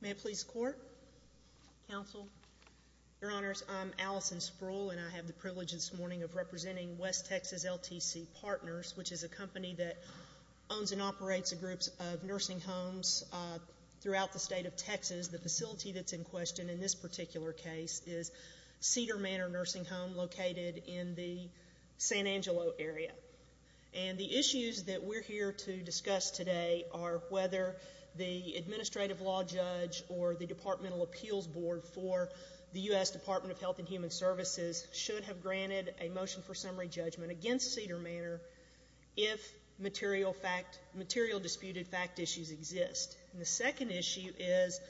May it please the Court, Counsel, Your Honors, I'm Allison Sproul, and I have the privilege this morning of representing West Texas LTC Partners, which is a company that owns and of Texas, the facility that's in question in this particular case is Cedar Manor Nursing Home located in the San Angelo area. And the issues that we're here to discuss today are whether the Administrative Law Judge or the Department of Appeals Board for the U.S. Department of Health and Human Services should have granted a motion for summary judgment against Cedar Manor if material disputed fact issues exist. And the second issue is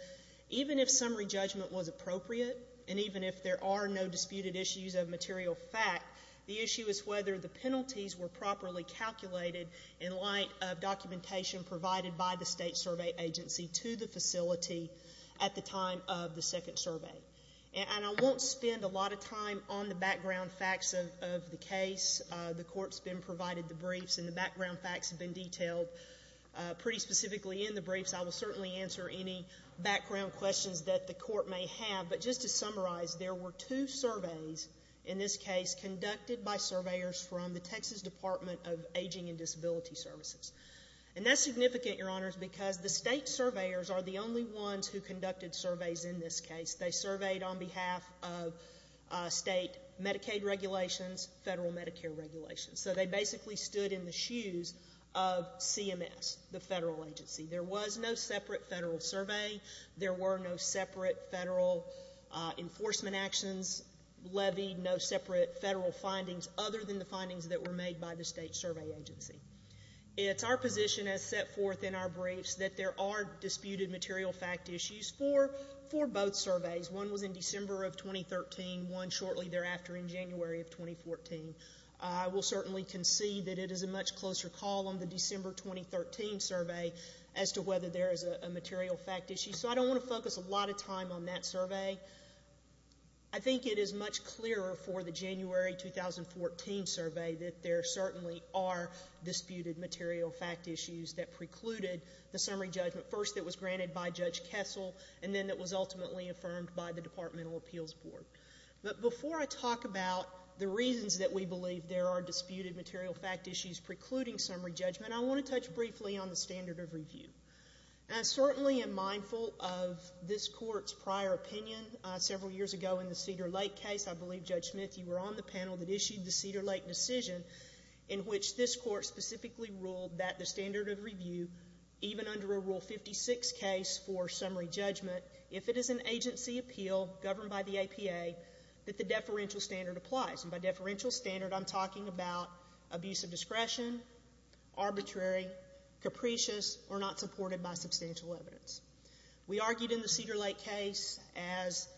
even if summary judgment was appropriate and even if there are no disputed issues of material fact, the issue is whether the penalties were properly calculated in light of documentation provided by the State Survey Agency to the facility at the time of the second survey. And I won't spend a lot of time on the background facts of the case. The Court's been provided the briefs and the background facts have been detailed pretty specifically in the briefs. I will certainly answer any background questions that the Court may have. But just to summarize, there were two surveys in this case conducted by surveyors from the Texas Department of Aging and Disability Services. And that's significant, Your Honors, because the State surveyors are the only ones who conducted surveys in this case. They surveyed on behalf of state Medicaid regulations, federal Medicare regulations. So they basically stood in the shoes of CMS, the federal agency. There was no separate federal survey. There were no separate federal enforcement actions levied, no separate federal findings other than the findings that were made by the State Survey Agency. It's our position as set forth in our briefs that there are disputed material fact issues for both surveys. One was in December of 2013, one shortly thereafter in January of 2014. I will certainly concede that it is a much closer call on the December 2013 survey as to whether there is a material fact issue. So I don't want to focus a lot of time on that survey. I think it is much clearer for the January 2014 survey that there certainly are disputed material fact issues that precluded the summary judgment. First, it was granted by Judge Kessel, and then it was ultimately affirmed by the Departmental Appeals Board. But before I talk about the reasons that we believe there are disputed material fact issues precluding summary judgment, I want to touch briefly on the standard of review. I certainly am mindful of this Court's prior opinion several years ago in the Cedar Lake case. I believe, Judge Smith, you were on the panel that issued the Cedar Lake decision in which this Court specifically ruled that the standard of review, even under a Rule 56 case for summary judgment, if it is an agency appeal governed by the APA, that the deferential standard applies. And by deferential standard, I'm talking about abuse of discretion, arbitrary, capricious, or not supported by substantial evidence. We argued in the Cedar Lake case, as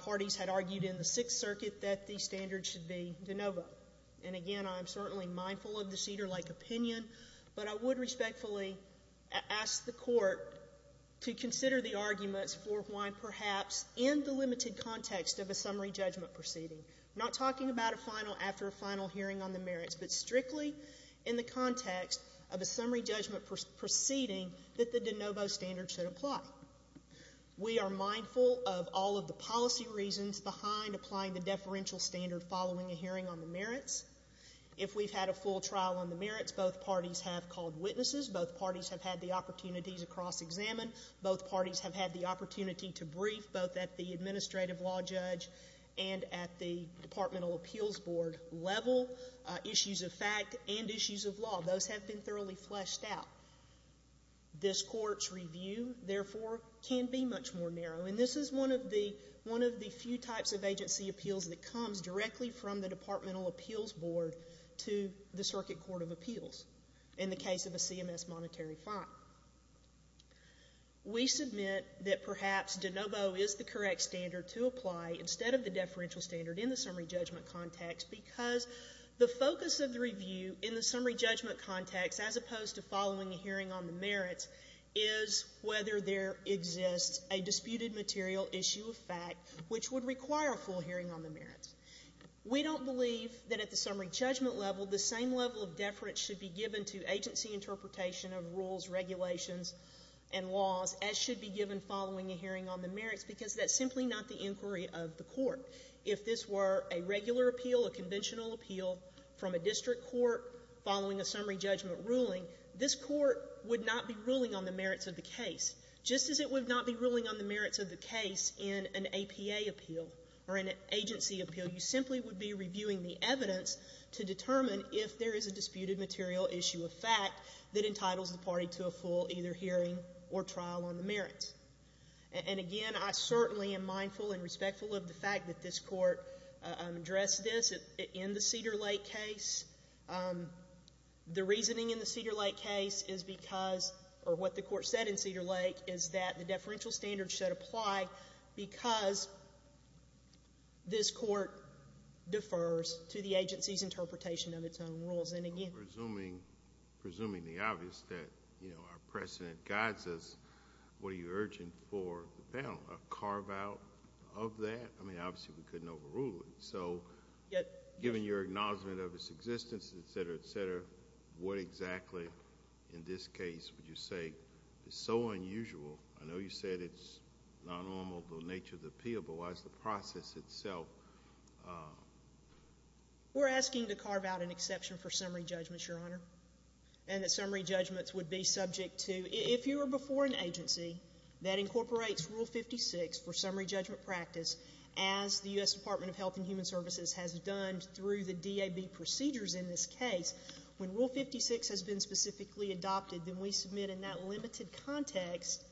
parties had argued in the Sixth Circuit, that the standard should be de novo. And again, I'm certainly mindful of the Cedar Lake opinion, but I would respectfully ask the Court to consider the arguments for why perhaps in the limited context of a summary judgment proceeding, not talking about a final after a final hearing on the merits, but strictly in the context of a summary judgment proceeding that the de novo standard should apply. We are mindful of all of the policy reasons behind applying the deferential standard following a hearing on the merits. If we've had a full trial on the merits, both parties have called witnesses, both parties have had the opportunities to cross-examine, both parties have had the opportunity to brief, both at the administrative law judge and at the departmental appeals board level, issues of fact and issues of law. Those have been thoroughly fleshed out. This Court's review, therefore, can be much more narrow. And this is one of the few types of agency appeals that comes directly from the departmental appeals board to the Circuit Court of Appeals in the case of a CMS monetary fine. We submit that perhaps de novo is the correct standard to apply instead of the deferential standard in the summary judgment context because the focus of the review in the summary judgment context, as opposed to following a hearing on the merits, is whether there exists a disputed material, issue of fact, which would require a full hearing on the merits. We don't believe that at the summary judgment level, the same level of deference should be given to agency interpretation of rules, regulations, and laws as should be given following a hearing on the merits because that's simply not the inquiry of the Court. If this were a regular appeal, a conventional appeal from a district court following a summary judgment ruling, this Court would not be ruling on the merits of the case, just as it would not be ruling on the merits of the case in an APA appeal or an agency appeal. You simply would be reviewing the evidence to determine if there is a disputed material, issue of fact, that entitles the party to a full either hearing or trial on the merits. And again, I certainly am mindful and respectful of the fact that this Court addressed this in the Cedar Lake case. The reasoning in the Cedar Lake case is because, or what the Court said in Cedar Lake, is that the deferential standard should apply because this Court defers to the agency's interpretation of its own rules. And again… Well, presuming the obvious, that, you know, our precedent guides us, what are you urging for the panel? A carve-out of that? I mean, obviously, we couldn't overrule it. So given your acknowledgment of its existence, et cetera, et cetera, what exactly in this case would you say is so unusual? I know you said it's not normal, the nature of the appeal, but why is the process itself… We're asking to carve out an exception for summary judgments, Your Honor, and that summary judgments would be subject to… If you were before an agency that incorporates Rule 56 for summary judgment practice, as the U.S. Department of Health and Human Services has done through the DAB procedures in this case, when Rule 56 has been specifically adopted, then we submit in that limited context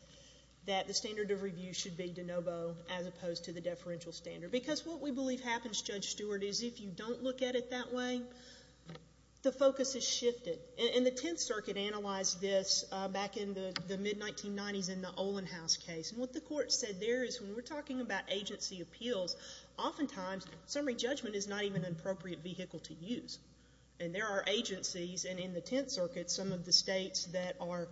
that the standard of review should be de novo as opposed to the deferential standard. Because what we believe happens, Judge Stewart, is if you don't look at it that way, the focus is shifted. And the Tenth Circuit analyzed this back in the mid-1990s in the Olin House case. And what the Court said there is when we're talking about agency appeals, oftentimes, summary judgment is not even an appropriate vehicle to use. And there are agencies, and in the Tenth Circuit, some of the states that are…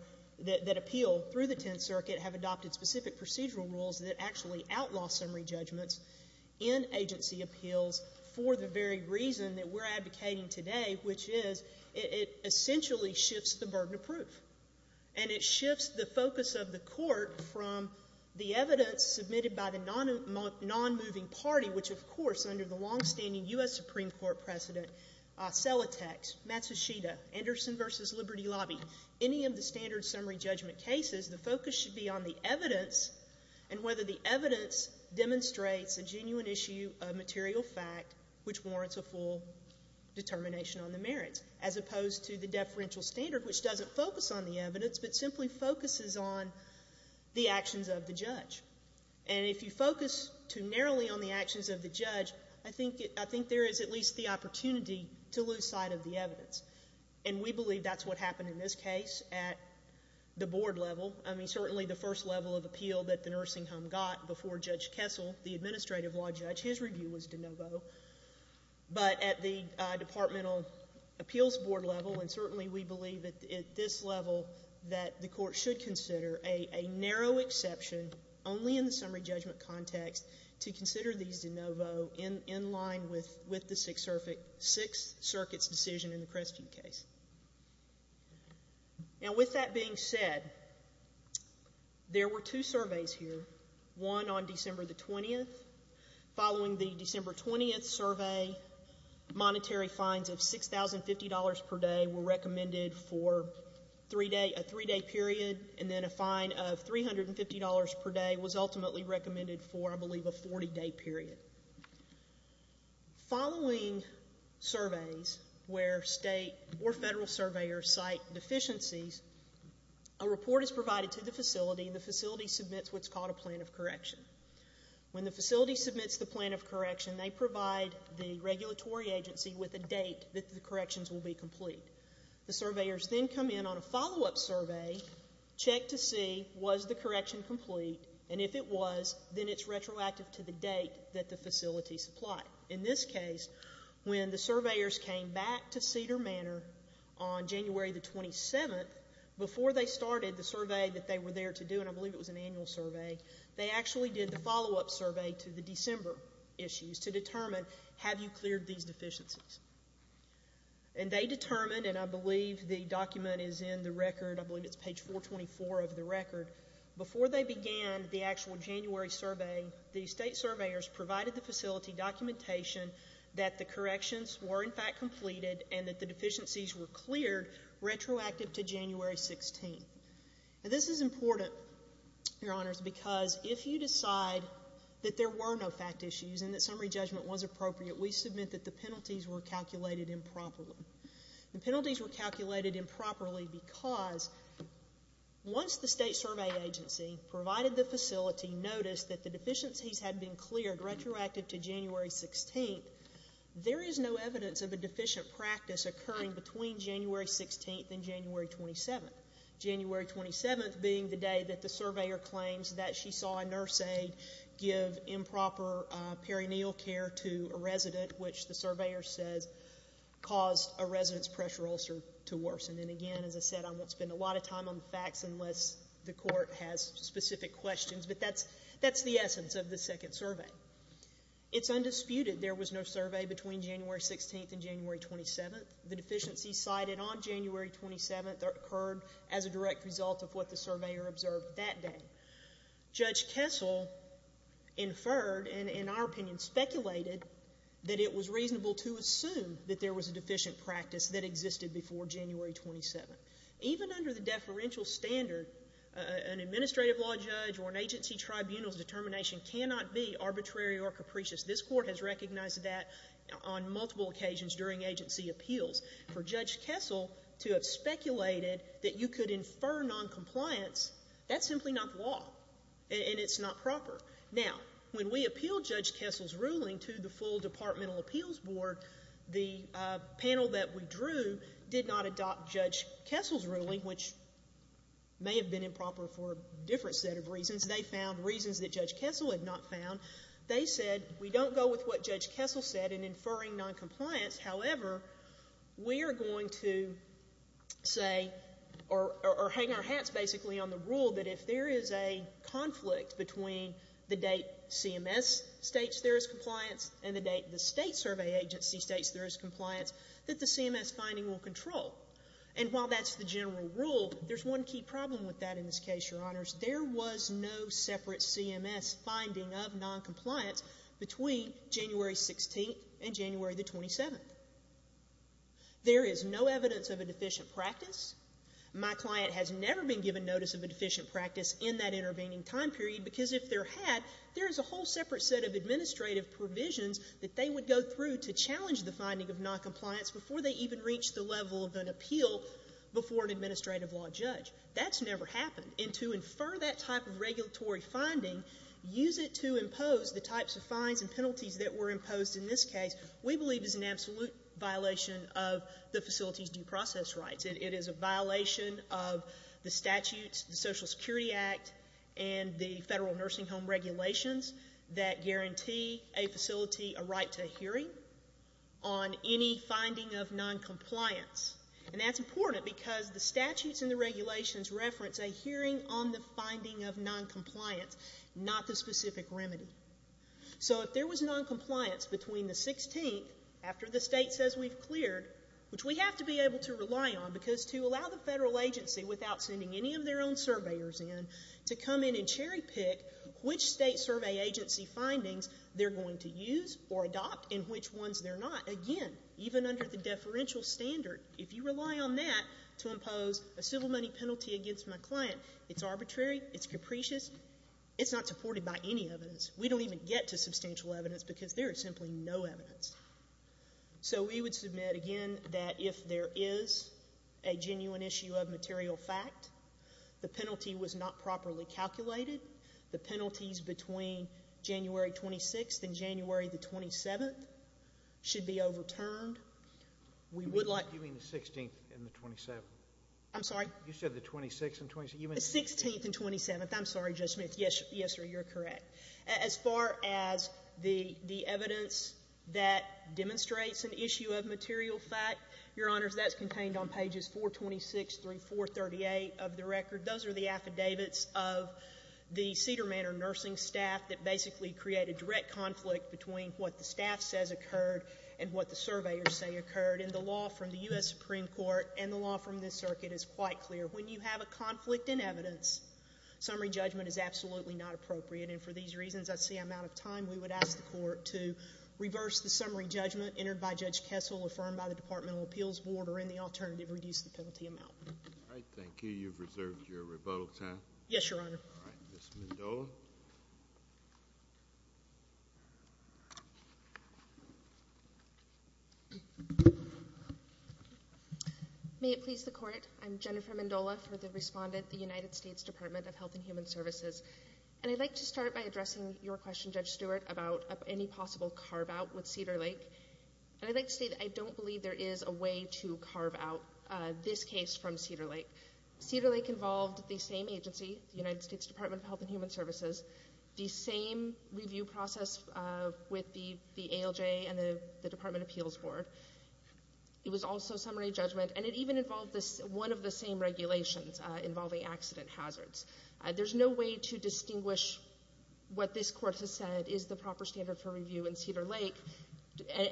that appeal through the Tenth Circuit have adopted specific procedural rules that actually outlaw summary judgments in agency appeals for the very reason that we're advocating today, which is it essentially shifts the burden of proof. And it shifts the focus of the Court from the evidence submitted by the non-moving party, which, of course, under the longstanding U.S. Supreme Court precedent, Celotex, Matsushita, Anderson v. Liberty Lobby, any of the standard summary judgment cases, the focus should be on the evidence and whether the evidence demonstrates a genuine issue of material fact which warrants a full determination on the merits, as opposed to the deferential standard, which doesn't focus on the evidence but simply focuses on the actions of the judge. And if you focus too narrowly on the actions of the judge, I think there is at least the opportunity to lose sight of the evidence. And we believe that's what happened in this case at the board level. I mean, certainly the first level of appeal that the nursing home got before Judge Kessel, the administrative law judge, his review was de novo. But at the departmental appeals board level, and certainly we believe at this level that the Court should consider a narrow exception only in the summary judgment context to consider these de novo in line with the Sixth Circuit's decision in the Crestview case. Now, with that being said, there were two surveys here, one on December the 20th. Following the December 20th survey, monetary fines of $6,050 per day were recommended for a three-day period, and then a fine of $350 per day was ultimately recommended for, I believe, a 40-day period. Following surveys where state or federal surveyors cite deficiencies, a report is provided to the facility, and the facility submits what's called a plan of correction. When the facility submits the plan of correction, they provide the regulatory agency with a date that the corrections will be complete. The surveyors then come in on a follow-up survey, check to see was the correction complete, and if it was, then it's retroactive to the date that the facility supplied. In this case, when the surveyors came back to Cedar Manor on January the 27th, before they started the survey that they were there to do, and I believe it was an annual survey, they actually did the follow-up survey to the December issues to determine, have you cleared these deficiencies? And they determined, and I believe the document is in the record, I believe it's page 424 of the record, before they began the actual January survey, the state surveyors provided the facility documentation that the corrections were in fact completed and that the deficiencies were cleared retroactive to January 16th. This is important, Your Honors, because if you decide that there were no fact issues and that summary judgment was appropriate, we submit that the penalties were calculated improperly. The penalties were calculated improperly because once the state survey agency provided the facility noticed that the deficiencies had been cleared retroactive to January 16th, there is no evidence of a deficient practice occurring between January 16th and January 27th, January 27th being the day that the surveyor claims that she saw a nurse aide give improper perineal care to a resident, which the surveyor says caused a resident's pressure ulcer to worsen. And again, as I said, I won't spend a lot of time on the facts unless the court has specific questions, but that's the essence of the second survey. It's undisputed there was no survey between January 16th and January 27th. The deficiencies cited on January 27th occurred as a direct result of what the surveyor observed that day. Judge Kessel inferred and, in our opinion, speculated that it was reasonable to assume that there was a deficient practice that existed before January 27th. Even under the deferential standard, an administrative law judge or an agency tribunal's determination cannot be arbitrary or capricious. This court has recognized that on multiple occasions during agency appeals. For Judge Kessel to have speculated that you could infer noncompliance, that's simply not law, and it's not proper. Now, when we appealed Judge Kessel's ruling to the full departmental appeals board, the panel that we drew did not adopt Judge Kessel's ruling, which may have been improper for a different set of reasons. They found reasons that Judge Kessel had not found. They said, we don't go with what Judge Kessel said in inferring noncompliance. However, we are going to say, or hang our hats basically on the rule that if there is a conflict between the date CMS states there is compliance and the date the state survey agency states there is compliance, that the CMS finding will control. And while that's the general rule, there's one key problem with that in this case, Your Honors. There was no separate CMS finding of noncompliance between January 16th and January the 27th. There is no evidence of a deficient practice. My client has never been given notice of a deficient practice in that intervening time period, because if there had, there is a whole separate set of administrative provisions that they would go through to challenge the finding of noncompliance before they even reached the level of an appeal before an administrative law judge. That's never happened. And to infer that type of regulatory finding, use it to impose the types of fines and penalties that were imposed in this case, we believe is an absolute violation of the facility's due process rights. It is a violation of the statutes, the Social Security Act, and the federal nursing home regulations that guarantee a facility a right to a hearing on any finding of noncompliance. And that's important because the regulations reference a hearing on the finding of noncompliance, not the specific remedy. So if there was noncompliance between the 16th, after the state says we've cleared, which we have to be able to rely on, because to allow the federal agency, without sending any of their own surveyors in, to come in and cherry pick which state survey agency findings they're going to use or adopt and which ones they're not, again, even under the deferential standard, if you rely on that to impose a civil money penalty against my client, it's arbitrary, it's capricious, it's not supported by any evidence. We don't even get to substantial evidence because there is simply no evidence. So we would submit, again, that if there is a genuine issue of material fact, the penalty was not properly calculated, the penalties between January 26th and January the 27th should be overturned. We would like— You mean the 16th and the 27th? I'm sorry? You said the 26th and 27th? The 16th and 27th. I'm sorry, Judge Smith. Yes, you're correct. As far as the evidence that demonstrates an issue of material fact, Your Honors, that's contained on pages 426 through 438 of the record. Those are the affidavits of the Cedar Manor nursing staff that basically create a direct conflict between what the staff says occurred and what the surveyors say occurred. And the law from the U.S. Supreme Court and the law from this circuit is quite clear. When you have a conflict in evidence, summary judgment is absolutely not appropriate. And for these reasons, I see I'm out of time. We would ask the Court to reverse the summary judgment entered by Judge Kessel, affirmed by the Departmental Appeals Board, or in the alternative, reduce the penalty amount. All right. Thank you. You've reserved your rebuttal time. Yes, Your Honor. All right. Ms. Mendola. May it please the Court. I'm Jennifer Mendola for the respondent, the United States Department of Health and Human Services. And I'd like to start by addressing your question, Judge Stewart, about any possible carve-out with Cedar Lake. And I'd like to say that I don't believe there is a way to carve out this case from Cedar Lake. Cedar Lake involved the same agency, the United States Department of Health and Human Services, the same review process with the ALJ and the Department Appeals Board. It was also summary judgment. And it even involved one of the same regulations involving accident hazards. There's no way to distinguish what this Court has said is the proper standard for review in Cedar Lake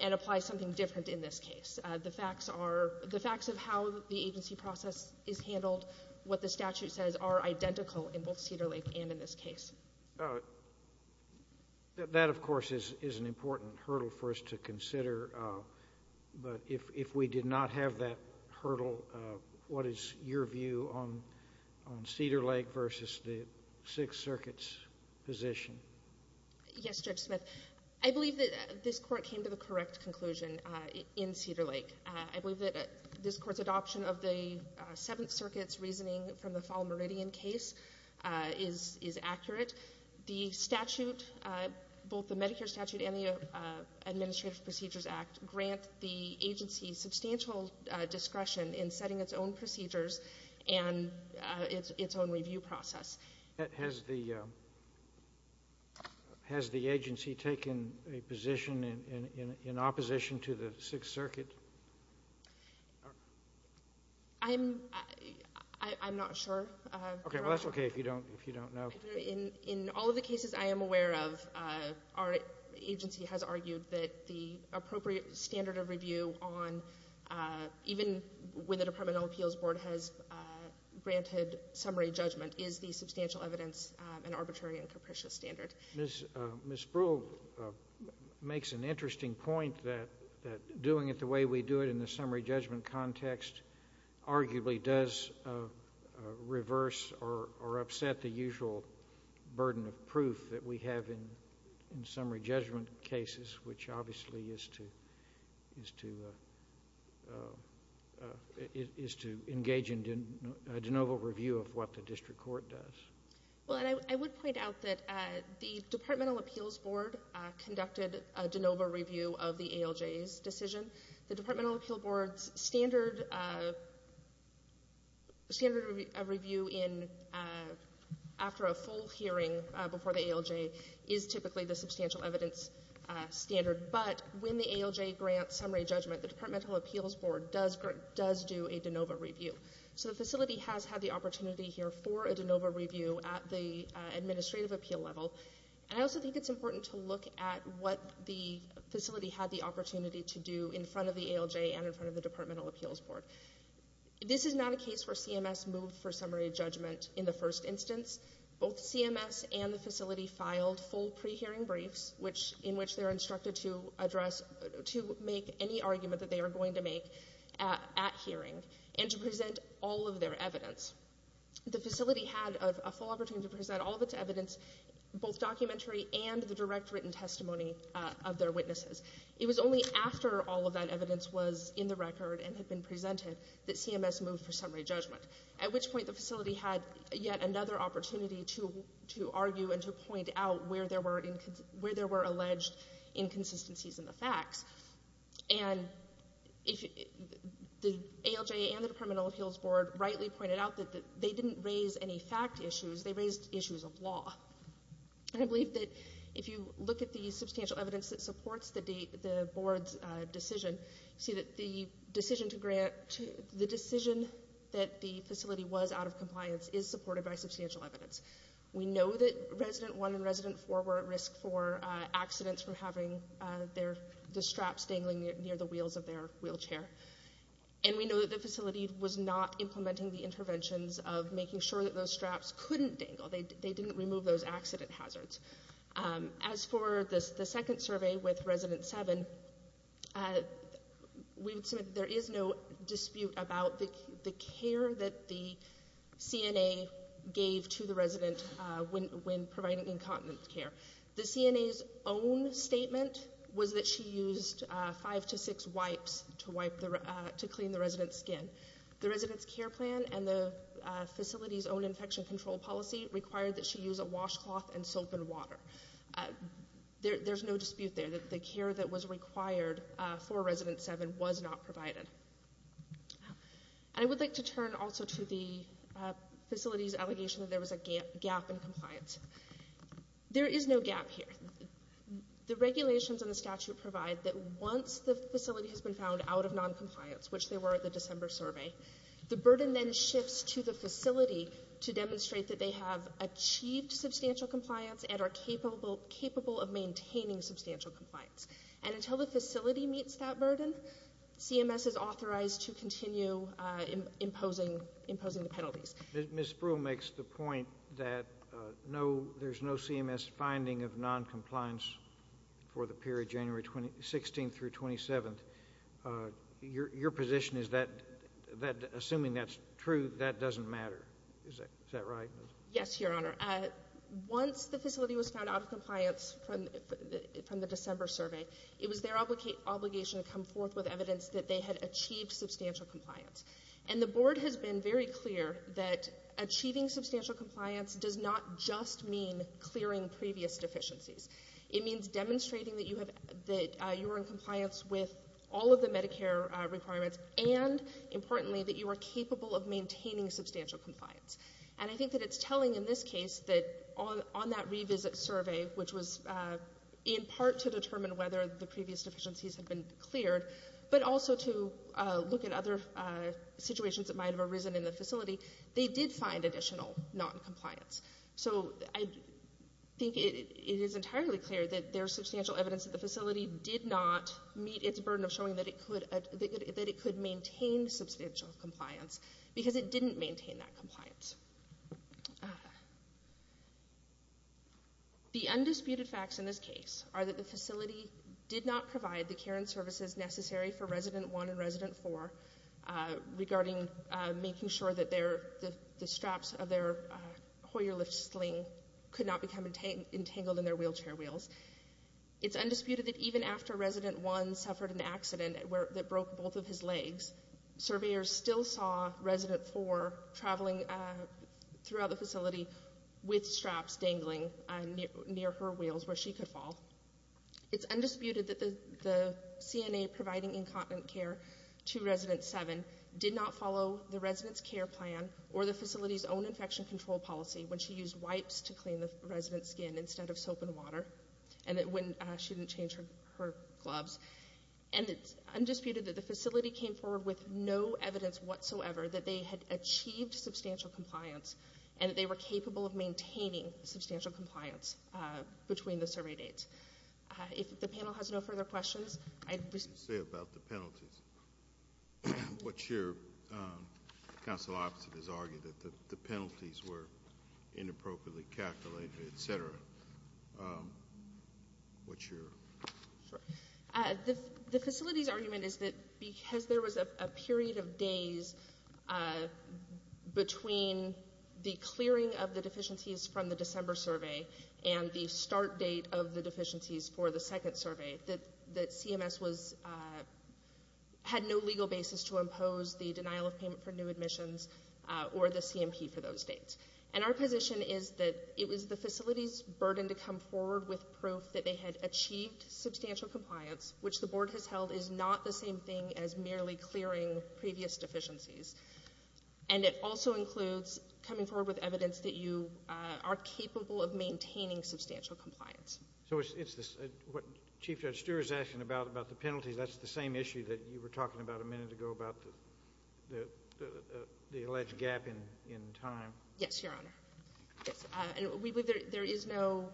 and apply something different in this case. The facts are — the facts of how the agency process is handled, what the statute says, are identical in both Cedar Lake and in this case. That, of course, is an important hurdle for us to consider. But if we did not have that hurdle, what is your view on Cedar Lake versus the Sixth Circuit's position? Yes, Judge Smith. I believe that this Court came to the correct conclusion in Cedar Lake. I believe that this Court's adoption of the Seventh Circuit's reasoning from the Fall Meridian case is accurate. The statute — both the Medicare statute and the Administrative Procedures Act grant the agency substantial discretion in setting its own procedures and its own review process. Has the agency taken a position in opposition to the Sixth Circuit? I'm not sure. Okay. Well, that's okay if you don't know. In all of the cases I am aware of, our agency has argued that the appropriate standard of review on even when the Department of Appeals Board has granted summary judgment is the substantial evidence and arbitrary and capricious standard. Ms. Brewer makes an interesting point that doing it the way we do it in the summary judgment context arguably does reverse or upset the usual burden of proof that we have in summary judgment cases, which obviously is to — is to engage in de novo review of what the district court does. Well, and I would point out that the Department of Appeals Board conducted a de novo review of the ALJ's decision. The Department of Appeals Board's standard review in — after a full hearing before the ALJ is typically the substantial evidence standard. But when the ALJ grants summary judgment, the Department of Appeals Board does do a de novo review. So the facility has had the opportunity here for a de novo review at the administrative appeal level. And I also think it's important to look at what the facility had the opportunity to do in front of the ALJ and in front of the Department of Appeals Board. This is not a case where CMS moved for summary judgment in the first instance. Both CMS and the facility had a full opportunity to present all of its evidence, both documentary and the direct written testimony of their witnesses. It was only after all of that evidence was in the record and had been presented that CMS moved for summary judgment, at which point the facility had yet another opportunity to argue and to point out where there were alleged inconsistencies in the facts. And the ALJ and the Department of Appeals Board rightly pointed out that they didn't raise any fact issues. They raised issues of law. And I believe that if you look at the substantial evidence that supports the board's decision, you see that the decision to grant — the decision that the facility was out of compliance is supported by substantial evidence. We know that resident one and resident four were at risk for accidents from having the straps dangling near the wheels of their wheelchair. And we know that the facility was not implementing the interventions of making sure that those straps couldn't dangle. They didn't remove those accident hazards. As for the second survey with resident seven, we would submit that there is no dispute about the care that the CNA gave to the resident when providing incontinence care. The CNA's own statement was that she used five to six wipes to clean the resident's skin. The resident's care plan and the facility's own infection control policy required that she use a washcloth and soap and water. There's no dispute there that the care that was required for resident seven was not provided. I would like to turn also to the facility's allegation that there was a gap in compliance. There is no gap here. The regulations and the statute provide that once the facility has been found out of non-compliance, which they were at the December survey, the burden then shifts to the facility to demonstrate that they have achieved substantial compliance and are capable of maintaining substantial compliance. And until the facility meets that burden, CMS is authorized to continue imposing the penalties. Ms. Spruill makes the point that there's no CMS finding of non-compliance for the period January 16th through 27th. Your position is that assuming that's true, that doesn't matter. Is that right? Yes, Your Honor. Once the facility was found out of compliance from the December survey, it was their obligation to come forth with evidence that they had achieved substantial compliance. And the Board has been very clear that achieving substantial compliance does not just mean clearing previous deficiencies. It means demonstrating that you were in compliance with all of the Medicare requirements and, importantly, that you are capable of maintaining substantial compliance. And I think that it's telling in this case that on that revisit survey, which was in part to determine whether the previous deficiencies had been cleared, but also to look at other situations that might have arisen in the facility, they did find additional non-compliance. So I think it is entirely clear that there's substantial evidence that the facility did not meet its burden of showing that it could maintain substantial compliance, because it didn't maintain that compliance. The undisputed facts in this case are that the facility did not provide the care and services necessary for Resident 1 and Resident 4 regarding making sure that the straps of their Hoyer lift sling could not become entangled in their wheelchair wheels. It's undisputed that even after Resident 1 suffered an accident that broke both of his legs, surveyors still saw throughout the facility with straps dangling near her wheels where she could fall. It's undisputed that the CNA providing incontinent care to Resident 7 did not follow the resident's care plan or the facility's own infection control policy when she used wipes to clean the resident's skin instead of soap and water, and that when she didn't change her gloves. And it's undisputed that the facility came forward with no evidence whatsoever that they had achieved substantial compliance and that they were capable of maintaining substantial compliance between the survey dates. If the panel has no further questions, I'd be... What did you say about the penalties? What's your... Counsel opposite has argued that the penalties were inappropriately calculated, etc. What's your... The facility's argument is that because there was a period of days between the clearing of the deficiencies from the December survey and the start date of the deficiencies for the second survey, that CMS had no legal basis to impose the denial of payment for new admissions or the CMP for those dates. And our position is that it was the facility's compliance, which the board has held is not the same thing as merely clearing previous deficiencies. And it also includes coming forward with evidence that you are capable of maintaining substantial compliance. So it's what Chief Judge Stewart is asking about, about the penalties. That's the same issue that you were talking about a minute ago about the alleged gap in time. Yes, Your Honor. We believe there is no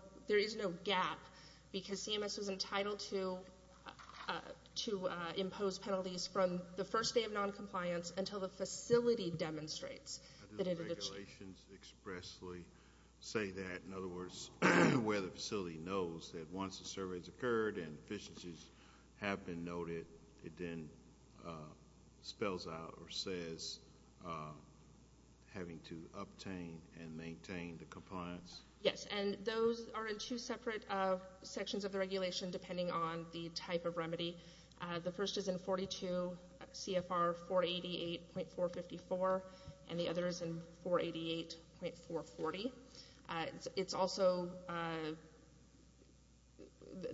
gap because CMS was entitled to to impose penalties from the first day of non-compliance until the facility demonstrates. How do the regulations expressly say that? In other words, where the facility knows that once the survey has occurred and deficiencies have been noted, it then spells out or says having to obtain and maintain the compliance? Yes, and those are in two separate sections of the regulation depending on the type of remedy. The first is in 42 CFR 488.454 and the other is in 488.440. It's also,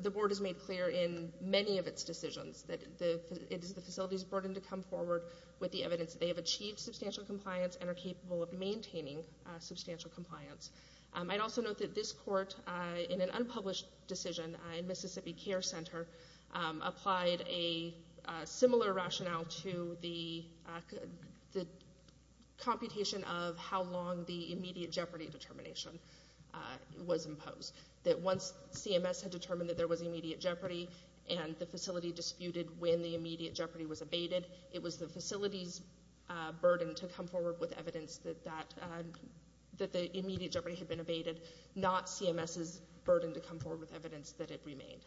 the board has made clear in many of its decisions that it is the facility's burden to come forward with the evidence they have achieved substantial compliance and are capable of maintaining substantial compliance. I'd also note that this court, in an unpublished decision in Mississippi Care Center, applied a similar rationale to the computation of how long the immediate jeopardy determination was imposed. That once CMS had determined that there was immediate jeopardy and the facility disputed when the immediate jeopardy was abated, it was the facility's burden to come forward with evidence that the immediate jeopardy had been abated, not CMS's burden to come forward with evidence that it remained.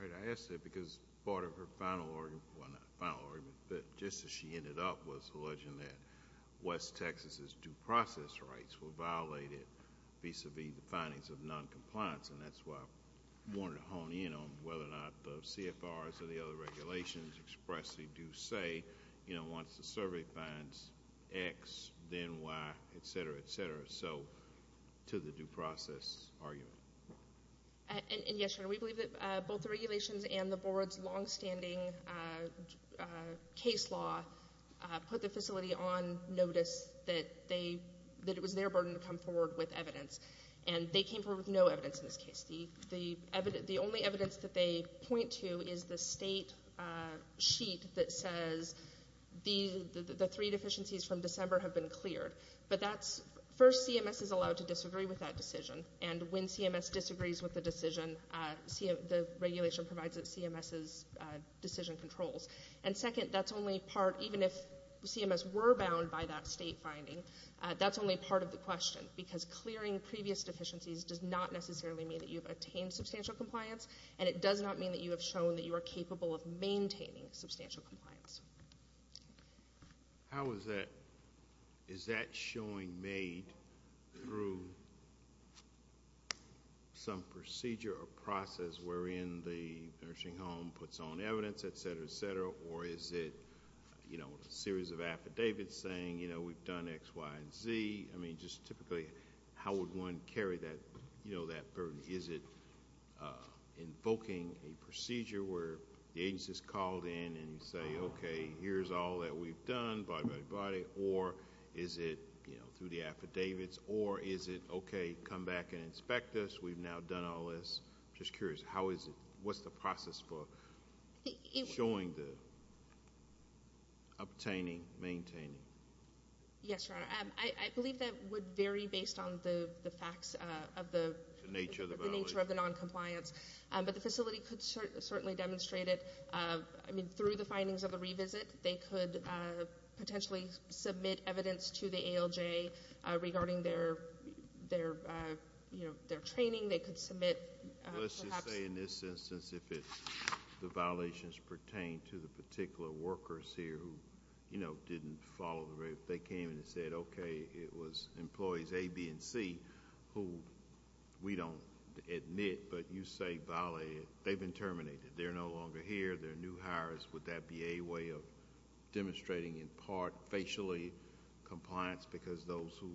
Right, I ask that because part of her final argument, well not final argument, but just as she ended up was alleging that West Texas's due process rights were violated vis-a-vis the findings of non-compliance and that's why I wanted to hone in on whether or not the CFRs or the other regulations expressly do say once the survey finds X, then Y, etc., etc., so to the due process argument. And yes, we believe that both the regulations and the board's longstanding case law put the facility on notice that it was their burden to come forward with evidence. And they came forward with no evidence in this case. The only evidence that they point to is the state sheet that says the three deficiencies from December have been cleared. But that's, first CMS is allowed to disagree with that decision and when CMS disagrees with the decision, the regulation provides it CMS's decision controls. And second, that's only part, even if CMS were bound by that state finding, that's only part of the question because clearing previous deficiencies does not necessarily mean that you have attained substantial compliance and it does not mean that you have shown that you are capable of maintaining substantial compliance. How is that, is that showing made through some procedure or process wherein the nursing home puts on evidence, etc., etc., or is it, you know, a series of how would one carry that, you know, that burden? Is it invoking a procedure where the agency's called in and you say, okay, here's all that we've done, body, body, body, or is it, you know, through the affidavits or is it, okay, come back and inspect us, we've now done all this. I'm just curious, how is it, what's the process for showing the obtaining, maintaining? Yes, Your Honor, I believe that would vary based on the facts of the nature of the noncompliance, but the facility could certainly demonstrate it, I mean, through the findings of the revisit, they could potentially submit evidence to the ALJ regarding their, you know, their training, they could submit perhaps I would say in this instance, if it's the violations pertain to the particular workers here who, you know, didn't follow the, they came and said, okay, it was employees A, B, and C, who we don't admit, but you say violated, they've been terminated, they're no longer here, they're new hires, would that be a way of demonstrating in part facially compliance because those who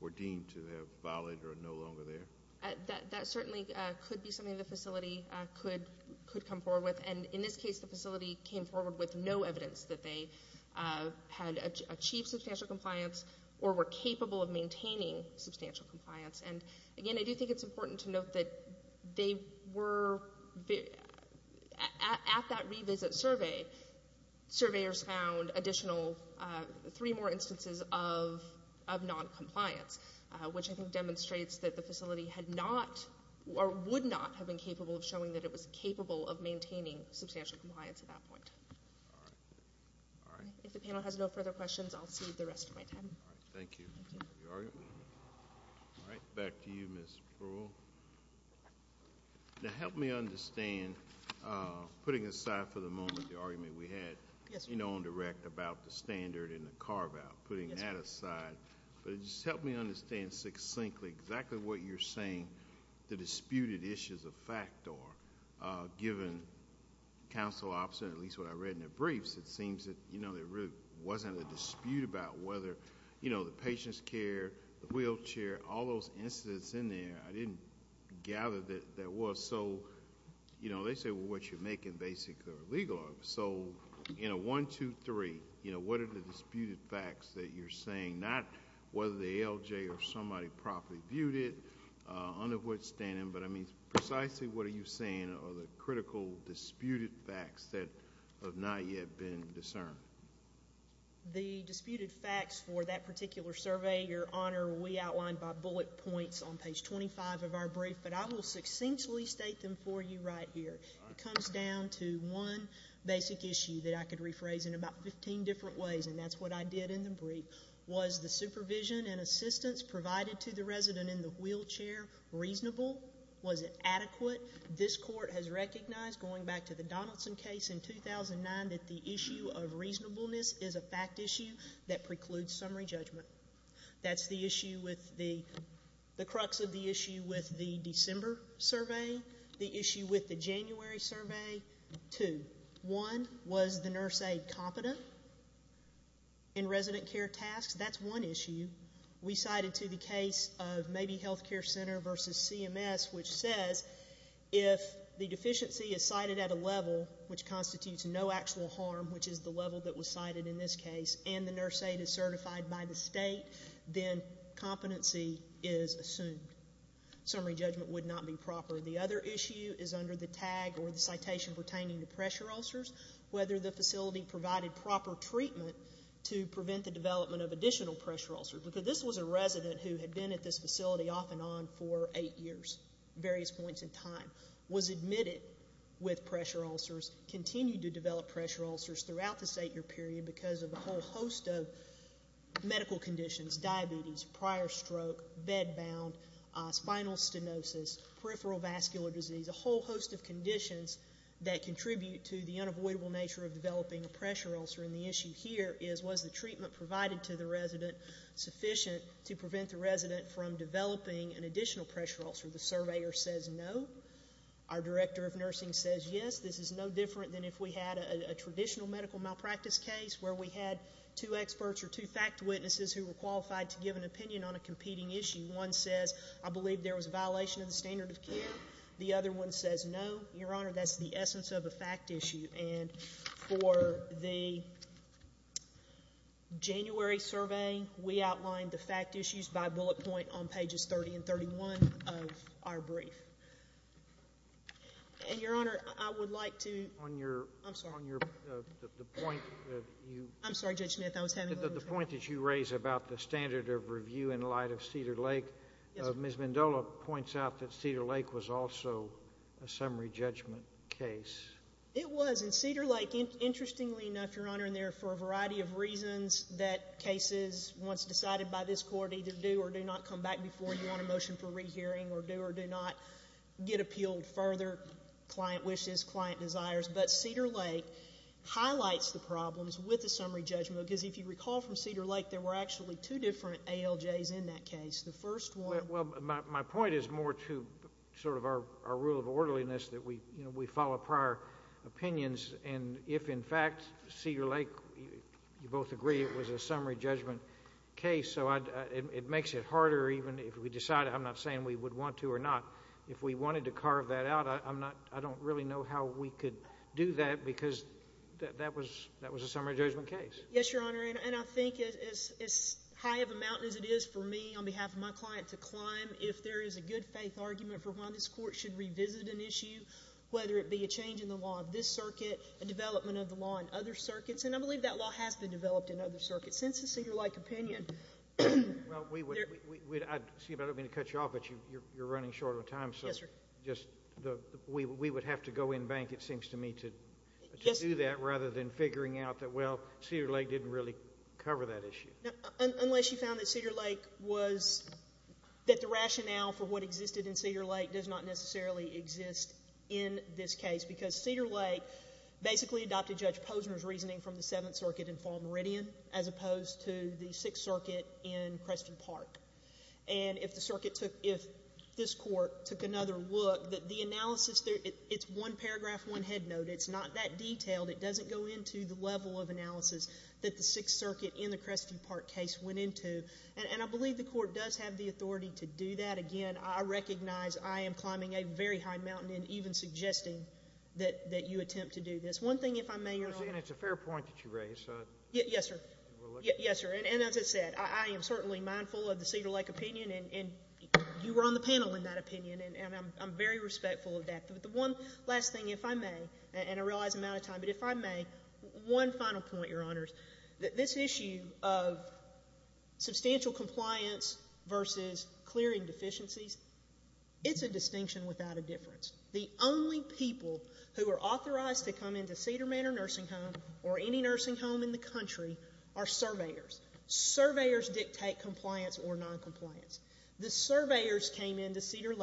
were deemed to have violated are no longer there? That certainly could be something the facility could come forward with, and in this case, the facility came forward with no evidence that they had achieved substantial compliance or were capable of maintaining substantial compliance, and again, I do think it's important to note that they were, at that revisit survey, surveyors found additional, three more instances of noncompliance, which I think demonstrates that the facility had not or would not have been capable of showing that it was capable of maintaining substantial compliance at that point. If the panel has no further questions, I'll cede the rest of my time. All right, thank you. All right, back to you, Ms. Brewer. Now, help me understand, putting aside for the moment the argument we had, you know, on direct about the standard and the carve-out, putting that aside, but just help me understand succinctly exactly what you're saying the disputed issues of fact are, given council option, at least what I read in the briefs, it seems that, you know, there really wasn't a dispute about whether, you know, the patient's care, the wheelchair, all those incidents in there, I didn't gather that there was, so, you know, they say, well, what you're making basically are legal. So, you know, one, two, three, you know, what are the disputed facts that you're saying, not whether the ALJ or somebody properly viewed it, under what standing, but I mean, precisely what are you saying are the critical disputed facts that have not yet been discerned? The disputed facts for that particular survey, Your Honor, we outlined by bullet points on page 25 of our brief, but I will succinctly state them for you right here. It comes down to one basic issue that I could rephrase in about 15 different ways, and that's what I did in the brief, was the supervision and assistance provided to the resident in the wheelchair reasonable? Was it adequate? This court has recognized, going back to the Donaldson case in 2009, that the issue of reasonableness is a fact issue that precludes summary judgment. That's the issue with the, the crux of the issue with the December survey, the issue with the January survey. Two, one, was the nurse aide competent in resident care tasks? That's one issue. We cited to the case of maybe healthcare center versus CMS, which says if the deficiency is cited at a level which constitutes no actual harm, which is the level that was cited in this case, and the nurse aide is certified by the state, then competency is assumed. Summary judgment would not be proper. The other issue is under the tag or the citation pertaining to pressure ulcers, whether the facility provided proper treatment to prevent the development of additional pressure ulcers, because this was a resident who had been at this facility off and on for eight years, various points in time, was admitted with pressure ulcers, continued to develop pressure ulcers throughout this eight-year period because of a whole host of medical conditions, diabetes, prior stroke, bed-bound, spinal stenosis, peripheral vascular disease, and so on and so forth. Vascular disease, a whole host of conditions that contribute to the unavoidable nature of developing a pressure ulcer, and the issue here is was the treatment provided to the resident sufficient to prevent the resident from developing an additional pressure ulcer? The surveyor says no. Our director of nursing says yes. This is no different than if we had a traditional medical malpractice case where we had two experts or two fact witnesses who were qualified to give an opinion on a competing issue. One says, I believe there was a violation of the standard of care. The other one says no. Your Honor, that's the essence of a fact issue, and for the January survey, we outlined the fact issues by bullet point on pages 30 and 31 of our brief. And, Your Honor, I would like to — On your — I'm sorry. On your — the point that you — I'm sorry, Judge Smith. I was having a little — The point that you raise about the standard of review in light of Cedar Lake, Ms. Mendola points out that Cedar Lake was also a summary judgment case. It was. And Cedar Lake, interestingly enough, Your Honor, and there are a variety of reasons that cases once decided by this Court either do or do not come back before you want a motion for rehearing or do or do not get appealed further, client wishes, client desires. But Cedar Lake highlights the problems with the summary judgment, because if you recall from Cedar Lake, there were actually two different ALJs in that case. The first one — Well, my point is more to sort of our rule of orderliness that we — you know, we follow prior opinions. And if, in fact, Cedar Lake — you both agree it was a summary judgment case, so I — it makes it harder even if we decide — I'm not saying we would want to or not. If we wanted to carve that out, I'm not — I don't really know how we could do that, because that was a summary judgment case. Yes, Your Honor. And I think as high of a mountain as it is for me on behalf of my client to climb, if there is a good-faith argument for why this Court should revisit an issue, whether it be a change in the law of this circuit, a development of the law in other circuits — and I believe that law has been developed in other circuits, since the Cedar Lake opinion — Well, we would — I'd — excuse me, I don't mean to cut you off, but you're running short on time, so — Yes, sir. — just the — we would have to go in bank, it seems to me, to do that rather than figuring out that, well, Cedar Lake didn't really cover that issue. Unless you found that Cedar Lake was — that the rationale for what existed in Cedar Lake does not necessarily exist in this case, because Cedar Lake basically adopted Judge Posner's reasoning from the Seventh Circuit in Fall Meridian as opposed to the Sixth Circuit in Creston Park. And if the circuit took — if this Court took another look, that the analysis there — it's one paragraph, one headnote. It's not that detailed. It doesn't go into the level of analysis that the Sixth Circuit in the Creston Park case went into. And I believe the Court does have the authority to do that. Again, I recognize I am climbing a very high mountain in even suggesting that you attempt to do this. One thing, if I may, Your Honor — And it's a fair point that you raise, so — Yes, sir. Yes, sir. And as I said, I am certainly mindful of the Cedar Lake opinion, and you were on the panel in that opinion, and I'm very respectful of that. But the one last thing, if I may, and I realize I'm out of time, but if I may, one final point, Your Honors. This issue of substantial compliance versus clearing deficiencies, it's a distinction without a difference. The only people who are authorized to come into Cedar Manor Nursing Home or any nursing home in the country are surveyors. Surveyors dictate compliance or noncompliance. The surveyors came into Cedar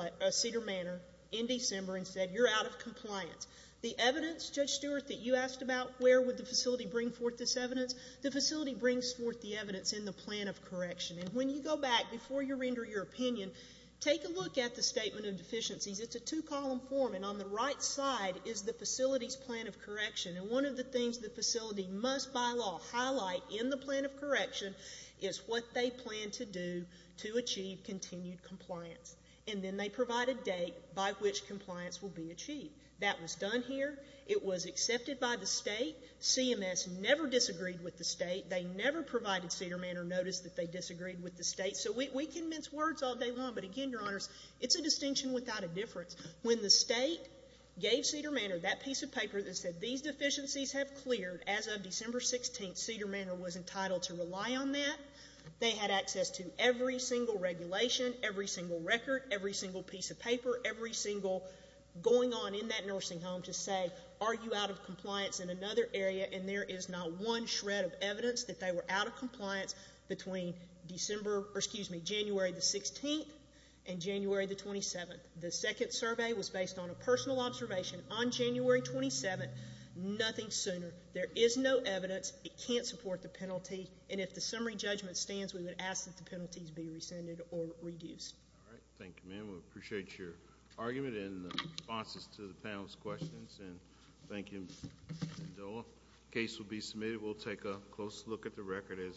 Manor in December and said, you're out of compliance. The evidence, Judge Stewart, that you asked about where would the facility bring forth this evidence, the facility brings forth the evidence in the plan of correction. And when you go back before you render your opinion, take a look at the statement of deficiencies. It's a two-column form, and on the right side is the facility's plan of correction. And one of the things the facility must, by law, highlight in the plan of correction is what they plan to do to achieve continued compliance. And then they provide a date by which compliance will be achieved. That was done here. It was accepted by the state. CMS never disagreed with the state. They never provided Cedar Manor notice that they disagreed with the state. So we convince words all day long, but again, Your Honors, it's a distinction without a difference. When the state gave Cedar Manor that piece of paper that said these deficiencies have cleared as of December 16th, Cedar Manor was entitled to rely on that. They had access to every single regulation, every single record, every single piece of paper, every single going on in that nursing home to say, are you out of compliance in another area? And there is not one shred of evidence that they were out of compliance between January the 16th and January the 27th. The second survey was based on a personal observation on January 27th, nothing sooner. There is no evidence. It can't support the penalty. And if the summary judgment stands, we would ask that the penalties be rescinded or reduced. All right, thank you, ma'am. We appreciate your argument and the responses to the panel's questions. And thank you, Mendoza. Case will be submitted. We'll take a close look at the record as